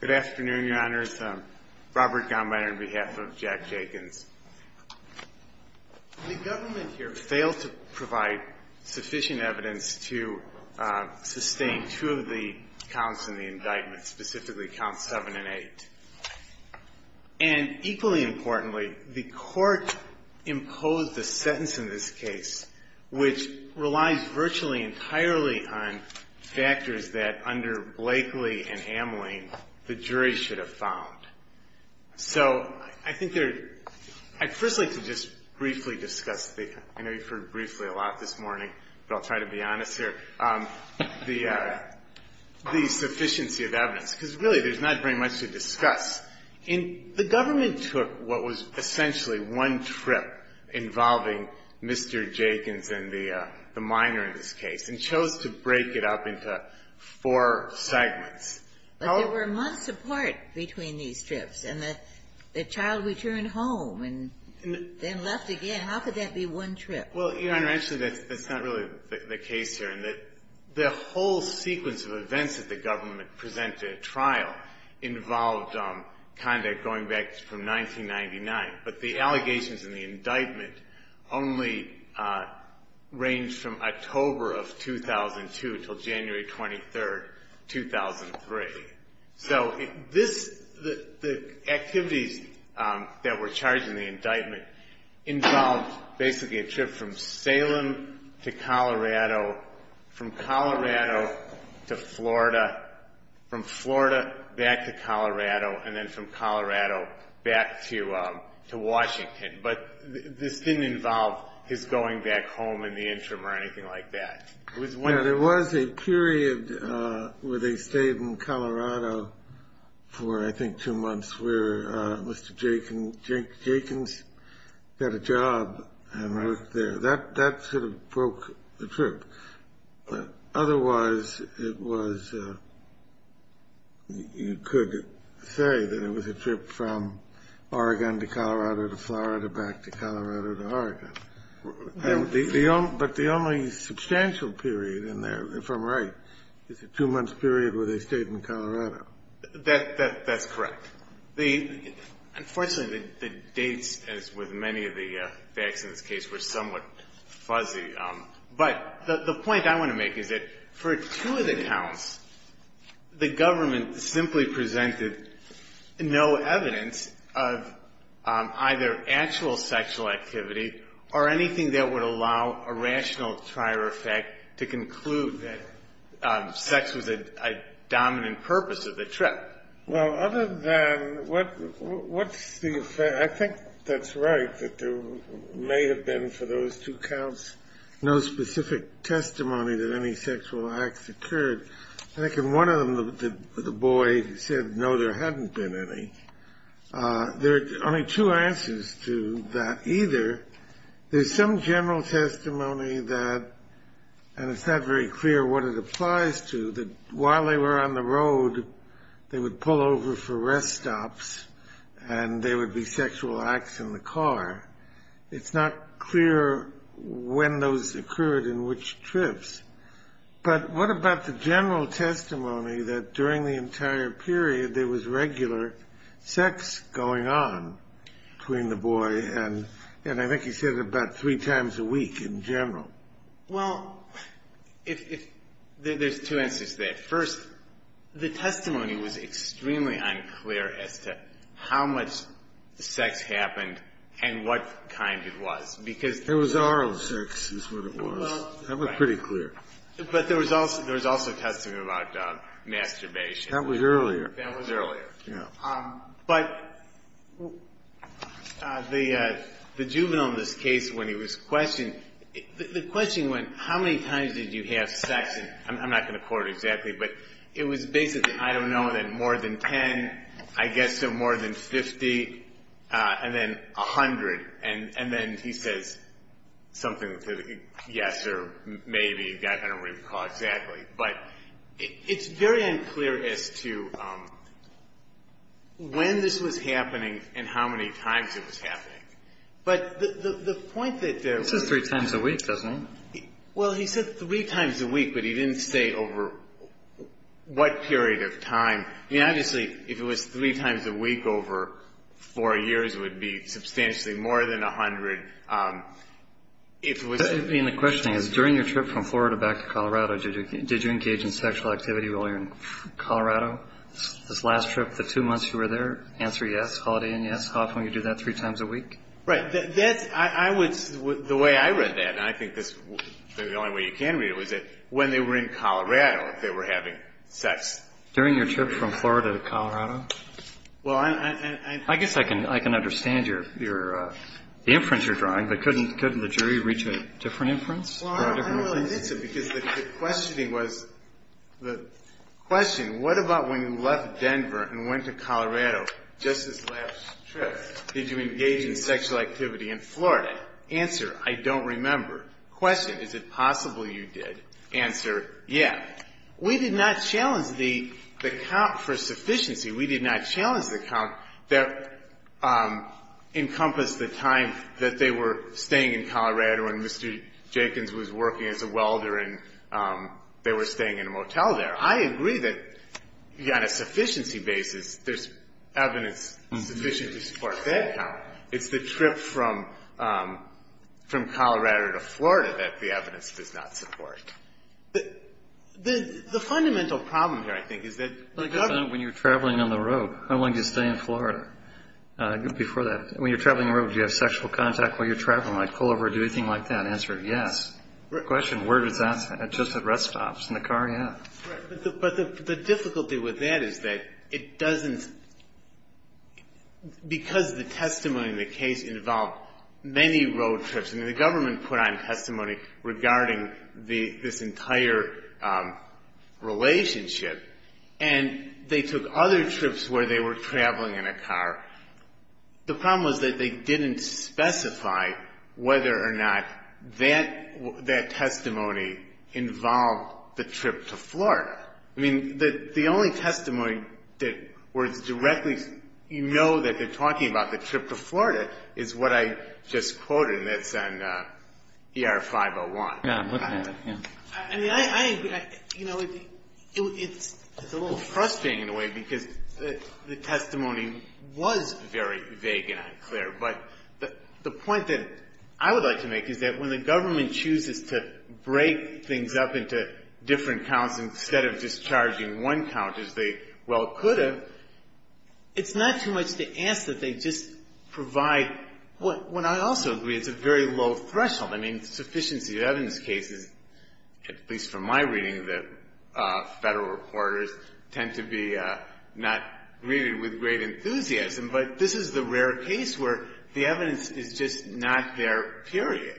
Good afternoon, your honors. Robert Gombiner on behalf of Jack Jeakins. The government here failed to provide sufficient evidence to sustain two of the counts in the indictment, specifically counts seven and eight. And equally importantly, the Court imposed a sentence in this case which relies virtually entirely on factors that under Blakely and Hamline the jury should have found. So I think there are – I'd first like to just briefly discuss the – I know you've heard briefly a lot this morning, but I'll try to be honest here – the sufficiency of evidence, because really there's not very much to discuss. And the government took what was essentially one trip involving Mr. Jeakins and the minor in this case and chose to break it up into four segments. But there were months apart between these trips, and the child returned home and then left again. How could that be one trip? GOMBINER Well, your honor, actually, that's not really the case here in that the whole sequence of events that the government presented at trial involved conduct going back from 1999. But the allegations in the indictment only range from October of 2002 until January 23, 2003. So the activities that were charged in the indictment involved basically a trip from Salem to Colorado, from Colorado to Florida, from Florida back to Colorado, and then from Colorado back to Washington. But this didn't involve his going back home in the interim or anything like that. It was when – TABOR Yeah, there was a period where they stayed in Colorado for, I think, two months where Mr. Jeakins got a job and worked there. That sort of broke the trip. But otherwise, it was – you could say that it was a trip from Oregon to Colorado to Florida back to Colorado to Oregon. GOMEBINER But the only substantial period in there, if I'm right, is a two-month period where they stayed in Colorado. TABOR That's correct. Unfortunately, the dates, as with many of the facts in this case, were somewhat fuzzy. But the point I want to make is that for two of the counts, the government simply presented no evidence of either actual sexual activity or anything that would allow a rational prior effect to conclude that sex was a dominant purpose of the trip. GOMEBINER Well, other than – what's the – I think that's right, that there may have been, for those two counts, no specific testimony that any sexual acts occurred. I think in one of them, the boy said, no, there hadn't been any. There are only two answers to that either. There's some general testimony that – and it's not very clear what it applies to – that while they were on the road, they would pull over for rest stops and there would be sexual acts in the car. It's not clear when those occurred and which trips. But what about the general testimony that during the entire period, there was regular sex going on between the boy and – and I think he said about three times a week in general. DRESSELHAUS Well, if – there's two answers to that. First, the testimony was extremely unclear as to how much sex happened and what kind it was, because – GOMEBINER There was oral sex, is what it was. That was pretty clear. DRESSELHAUS Right. But there was also – there was also testimony about masturbation. GOMEBINER That was earlier. DRESSELHAUS That was earlier. GOMEBINER Yeah. DRESSELHAUS But the juvenile in this case, when he was questioned, the question went, how many times did you have sex? And I'm not going to quote it exactly, but it was basically, I don't know, then more than 10, I guess more than 50, and then 100. And then he says something to the – yes or maybe, I don't really recall exactly. But it's very unclear as to when this was happening and how many times it was happening. But the point that there was – GOMEBINER This is three times a week, doesn't it? DRESSELHAUS Well, he said three times a week, but he didn't say over what period of time. I mean, obviously, if it was three times a week over four years, it would be substantially more than 100. If it was – GOMEBINER The question is, during your trip from Florida back to Colorado, did you engage in sexual activity while you were in Colorado? This last trip, the two months you were there, answer yes, Holiday Inn, yes. How often would you do that, three times a week? DRESSELHAUS Right. That's – I would – the way I read that, and I think this – the only way you can read it, was that when they were in Colorado, they were having sex. GOMEBINER During your trip from Florida to Colorado? DRESSELHAUS Well, I'm – GOMEBINER I guess I can understand your – the inference you're drawing, but couldn't the jury reach a different inference? DRESSELHAUS Well, I don't really think so, because the questioning was – the question, what about when you left Denver and went to Colorado just this last trip? Did you engage in sexual activity in Florida? Answer, I don't remember. Question, is it possible you did? Answer, yes. We did not challenge the count for sufficiency. We did not challenge the count that encompassed the time that they were staying in Colorado, and Mr. Jenkins was working as a welder, and they were staying in a motel there. I agree that on a sufficiency basis, there's evidence sufficient to support that count. It's the trip from Colorado to Florida that the evidence does not support. The fundamental problem here, I think, is that the government – GOMEBINER When you're traveling on the road, how long did you stay in Florida before that? When you're traveling on the road, do you have sexual contact while you're traveling? Like pull over, do anything like that? Answer, yes. Question, where does that – just at rest stops, in the car? Yeah. DRESSELHAUS Right. But the difficulty with that is that it doesn't – because the testimony in the case involved many road trips, and the government put on testimony regarding this entire relationship, and they took other trips where they were traveling in a car. The problem was that they didn't specify whether or not that testimony involved the trip to Florida. I mean, the only testimony that was directly – you know that they're talking about the trip to Florida is what I just quoted, and that's on ER-501. GOMEBINER Yeah, I'm looking at it, yeah. I mean, I agree. You know, it's a little frustrating in a way, because the testimony was very vague and unclear. But the point that I would like to make is that when the government chooses to break things up into different counts instead of just charging one count, as they well could have, it's not too much to ask that they just provide what I also agree is a very low threshold. I mean, sufficiency of evidence cases, at least from my reading, the Federal reporters tend to be not greeted with great enthusiasm. But this is the rare case where the evidence is just not there, period.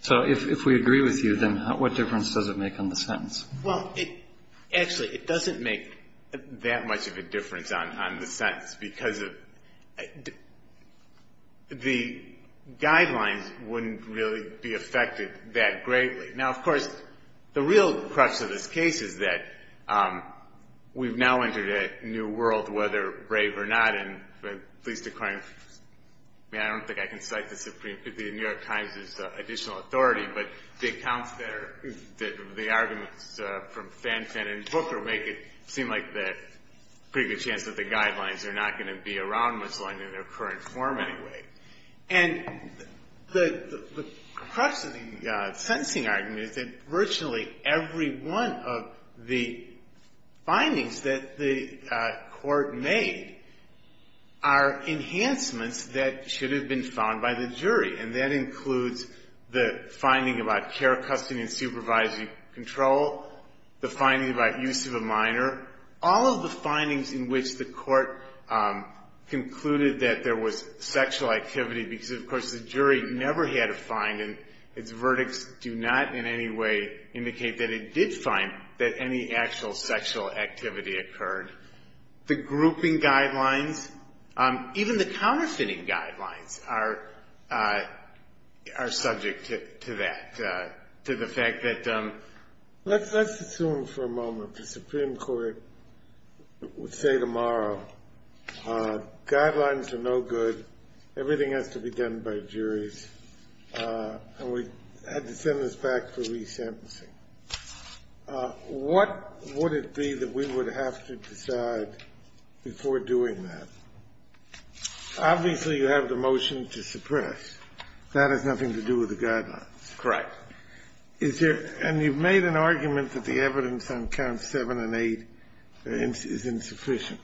BREYER So if we agree with you, then what difference does it make on the sentence? GOMEBINER Well, it – actually, it doesn't make that much of a difference on the sentence, because the guidelines wouldn't really be affected that greatly. Now, of course, the real crux of this case is that we've now entered a new world, whether brave or not, and at least according – I mean, I don't think I can cite the New York Times' additional authority, but the accounts that are – the arguments from are not going to be around much longer in their current form, anyway. And the crux of the sentencing argument is that virtually every one of the findings that the Court made are enhancements that should have been found by the jury, and that includes the finding about care, custody, and supervisory control, the finding about use of a court concluded that there was sexual activity, because, of course, the jury never had a finding. Its verdicts do not in any way indicate that it did find that any actual sexual activity occurred. The grouping guidelines, even the counterfeiting guidelines, are subject to that, to the fact that – Let's assume for a moment the Supreme Court would say tomorrow, guidelines are no good, everything has to be done by juries, and we had to send this back for re-sentencing. What would it be that we would have to decide before doing that? Obviously, you have the motion to suppress. That has nothing to do with the guidelines. Correct. Is there – and you've made an argument that the evidence on counts 7 and 8 is insufficient,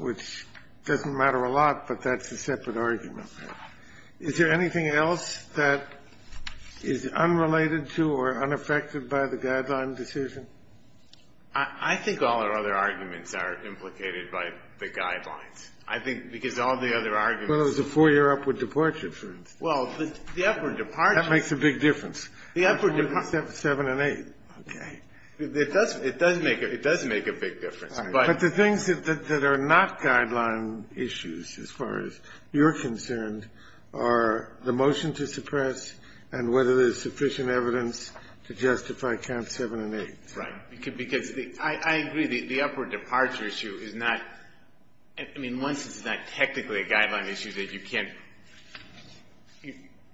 which doesn't matter a lot, but that's a separate argument. Is there anything else that is unrelated to or unaffected by the guideline decision? I think all our other arguments are implicated by the guidelines, I think, because all the other arguments – Well, it was a four-year upward departure. Well, the upward departure – That makes a big difference. The upward departure – Counts 7 and 8. Okay. It does make a big difference, but – But the things that are not guideline issues, as far as you're concerned, are the motion to suppress and whether there's sufficient evidence to justify counts 7 and 8. Right. Because I agree the upward departure issue is not – I mean, once it's not technically a guideline issue, then you can't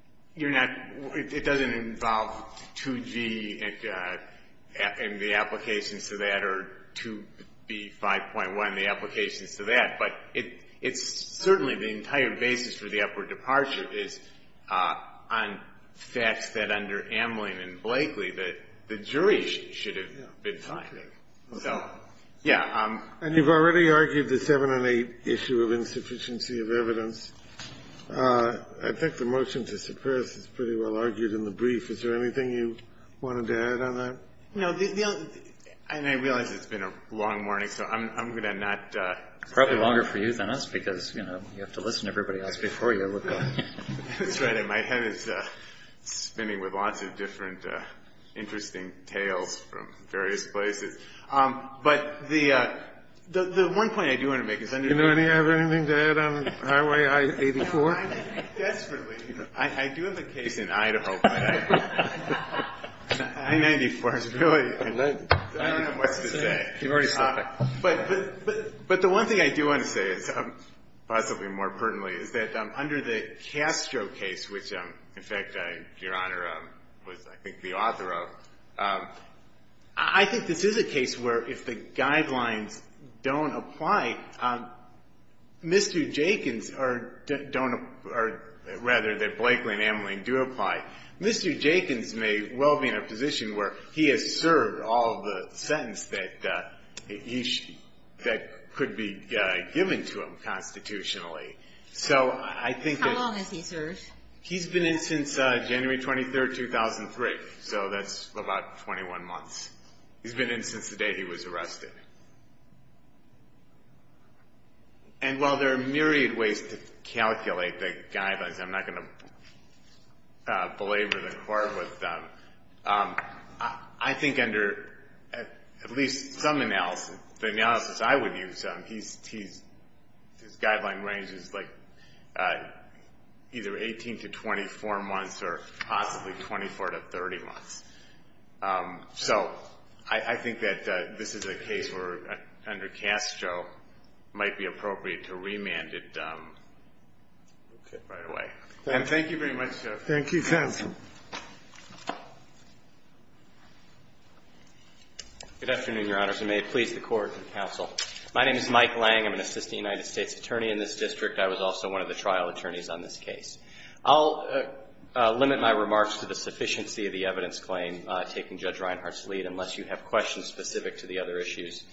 – you're not – it doesn't involve 2G and the applications to that or 2B 5.1, the applications to that. But it's certainly the entire basis for the upward departure is on facts that under Amling and Blakely that the jury should have been finding. So, yeah. And you've already argued the 7 and 8 issue of insufficiency of evidence. I think the motion to suppress is pretty well argued in the brief. Is there anything you wanted to add on that? No. And I realize it's been a long morning, so I'm going to not – Probably longer for you than us, because, you know, you have to listen to everybody else before you look on. That's right. And my head is spinning with lots of different interesting tales from various places. But the one point I do want to make is under the – Do you have anything to add on I-84? No, I mean, desperately. I do have a case in Idaho. I-94 is really – I don't know what to say. You've already stopped. But the one thing I do want to say is, possibly more pertinently, is that under the Castro case, which, in fact, Your Honor was, I think, the author of, I think this is a case where if the guidelines don't apply, Mr. Jenkins or – don't – or, rather, that Blakely and Ameline do apply, Mr. Jenkins may well be in a position where he has served all the sentence that he – that could be given to him constitutionally. So I think that – He's been in since January 23rd, 2003, so that's about 21 months. He's been in since the day he was arrested. And while there are myriad ways to calculate the guidelines, I'm not going to belabor the court with them, I think under at least some analysis, the analysis I would use, his sentence is 18 to 24 months or possibly 24 to 30 months. So I think that this is a case where, under Castro, it might be appropriate to remand it right away. And thank you very much, Your Honor. Thank you, counsel. Good afternoon, Your Honors, and may it please the Court and counsel. My name is Mike Lang. I'm an assistant United States attorney in this district. I was also one of the trial attorneys on this case. I'll limit my remarks to the sufficiency of the evidence claim, taking Judge Reinhart's lead, unless you have questions specific to the other issues.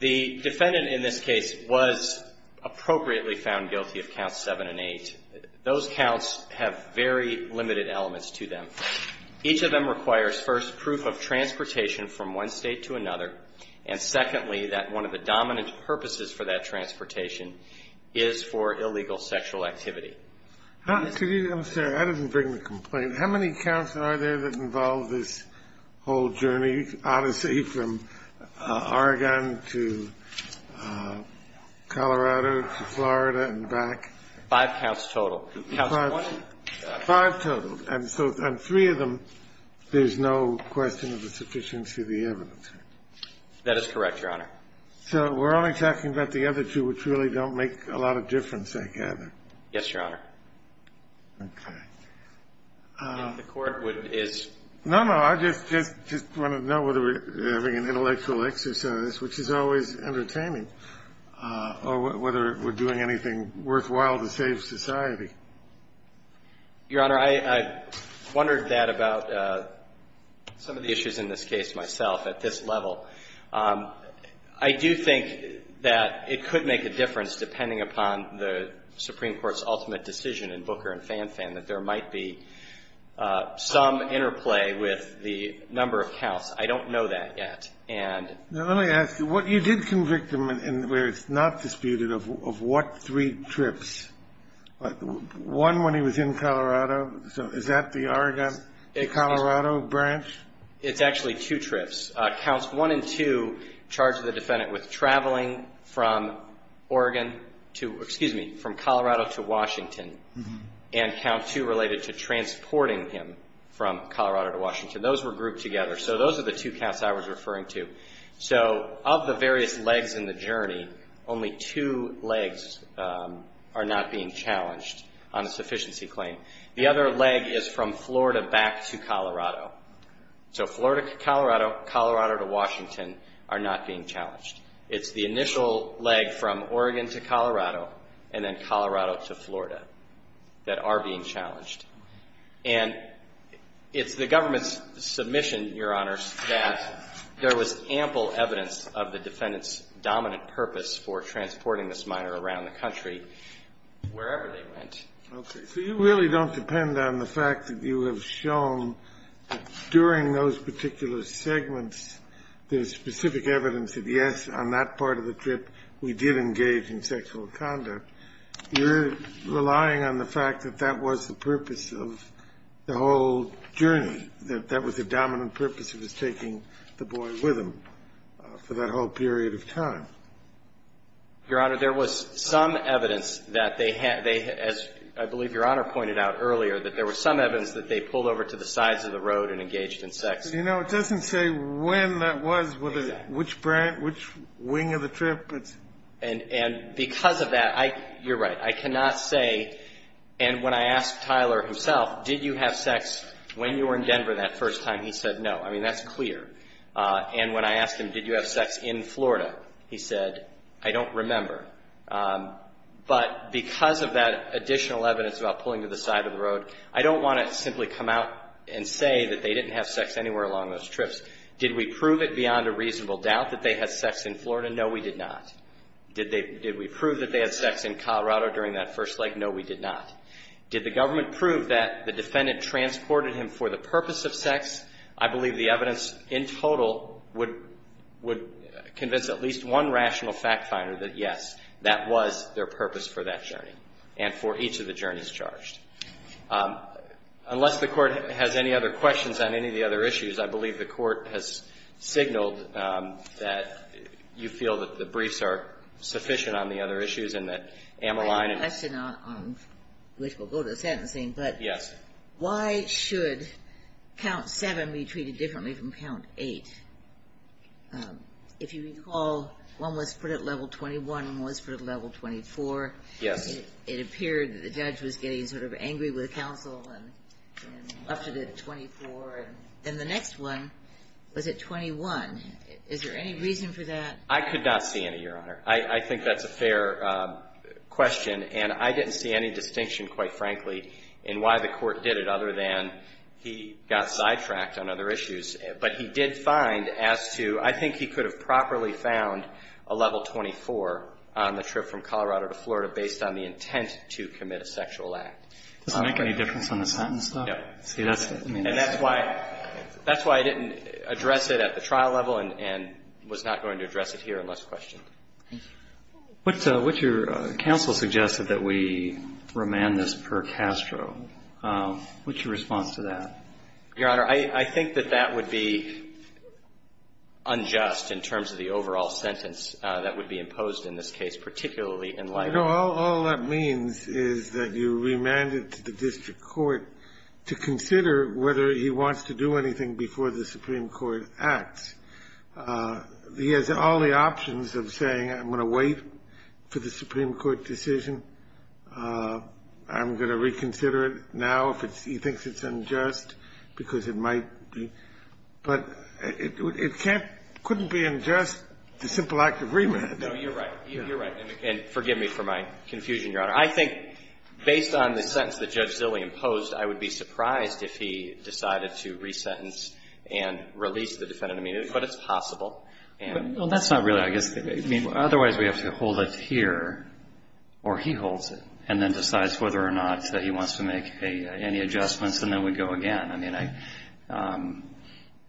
The defendant in this case was appropriately found guilty of Counts 7 and 8. Those counts have very limited elements to them. Each of them requires, first, proof of transportation from one State to another, and secondly, that one of the dominant purposes for that transportation is for illegal sexual activity. I'm sorry. That doesn't bring the complaint. How many counts are there that involve this whole journey, odyssey, from Oregon to Colorado to Florida and back? Five counts total. Five total. And so on three of them, there's no question of the sufficiency of the evidence. That is correct, Your Honor. So we're only talking about the other two, which really don't make a lot of difference, I gather. Yes, Your Honor. Okay. I think the Court would, is... No, no. I just want to know whether we're having an intellectual exercise, which is always entertaining, or whether we're doing anything worthwhile to save society. Your Honor, I wondered that about some of the issues in this case myself at this level. I do think that it could make a difference, depending upon the Supreme Court's ultimate decision in Booker and Fanfan, that there might be some interplay with the number of counts. I don't know that yet. And... Now, let me ask you, what you did convict him, where it's not disputed, of what three trips? One when he was in Colorado? So is that the Oregon to Colorado branch? It's actually two trips. Counts 1 and 2 charge the defendant with traveling from Oregon to, excuse me, from Colorado to Washington, and Count 2 related to transporting him from Colorado to Washington. Those were grouped together. So those are the two counts I was referring to. So of the various legs in the journey, only two legs are not being challenged on this case. So Florida to Colorado, Colorado to Washington are not being challenged. It's the initial leg from Oregon to Colorado, and then Colorado to Florida that are being challenged. And it's the government's submission, Your Honor, that there was ample evidence of the defendant's dominant purpose for transporting this minor around the country, wherever they went. Okay. So you really don't depend on the fact that you have shown that during those particular segments, there's specific evidence that, yes, on that part of the trip, we did engage in sexual conduct. You're relying on the fact that that was the purpose of the whole journey, that that was the dominant purpose, it was taking the boy with him for that whole period of time. Your Honor, there was some evidence that they had they, as I believe Your Honor pointed out earlier, that there was some evidence that they pulled over to the sides of the road and engaged in sex. But, you know, it doesn't say when that was, which brand, which wing of the trip. And because of that, I, you're right, I cannot say, and when I asked Tyler himself, did you have sex when you were in Denver that first time, he said no. I mean, that's clear. And when I asked him, did you have sex in Florida, he said, I don't remember. But because of that additional evidence about pulling to the side of the road, I don't want to simply come out and say that they didn't have sex anywhere along those trips. Did we prove it beyond a reasonable doubt that they had sex in Florida? No, we did not. Did we prove that they had sex in Colorado during that first leg? No, we did not. Did the government prove that the defendant transported him for the purpose of sex? I believe the evidence in total would convince at least one rational fact finder that, yes, that was their purpose for that journey and for each of the journeys charged. Unless the Court has any other questions on any of the other issues, I believe the Court has signaled that you feel that the briefs are sufficient on the other issues and that Amaline and — I have a question on, which will go to the sentencing, but — Yes. Why should count 7 be treated differently from count 8? If you recall, one was put at level 21, one was put at level 24. Yes. It appeared that the judge was getting sort of angry with counsel and upped it to 24. And the next one was at 21. Is there any reason for that? I could not see any, Your Honor. I think that's a fair question. And I didn't see any distinction, quite frankly, in why the Court did it other than he got sidetracked on other issues. But he did find as to — I think he could have properly found a level 24 on the trip from Colorado to Florida based on the intent to commit a sexual act. Does it make any difference on the sentence, though? Yes. See, that's — And that's why — that's why I didn't address it at the trial level and was not going to address it here unless questioned. Thank you. What's your — counsel suggested that we remand this per Castro. What's your response to that? Your Honor, I think that that would be unjust in terms of the overall sentence that would be imposed in this case, particularly in light of — You know, all that means is that you remand it to the district court to consider whether he wants to do anything before the Supreme Court acts. He has all the options of saying, I'm going to wait for the Supreme Court decision. I'm going to reconsider it now if he thinks it's unjust, because it might be. But it can't — couldn't be unjust, the simple act of remand. No, you're right. You're right. And forgive me for my confusion, Your Honor. I think, based on the sentence that Judge Zilli imposed, I would be surprised if he decided to resentence and release the defendant immediately. But it's possible. Well, that's not really — I guess — I mean, otherwise we have to hold it here, or he holds it, and then decides whether or not he wants to make any adjustments, and then we go again. I mean,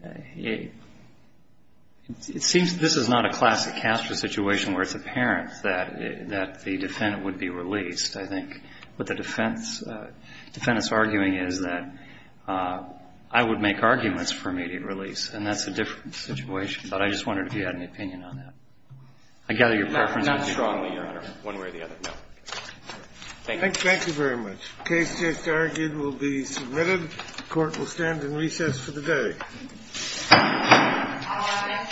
I — it seems this is not a classic Castro situation where it's apparent that the defendant would be released. I think what the defense — defendant's arguing is that I would make arguments for immediate release, and that's a different situation. But I just wondered if you had an opinion on that. I gather your preference would be — Not strongly, Your Honor, one way or the other, no. Thank you. Thank you very much. The case just argued will be submitted. The Court will stand in recess for the day. All rise. The Court is in recess for the day. Thank you.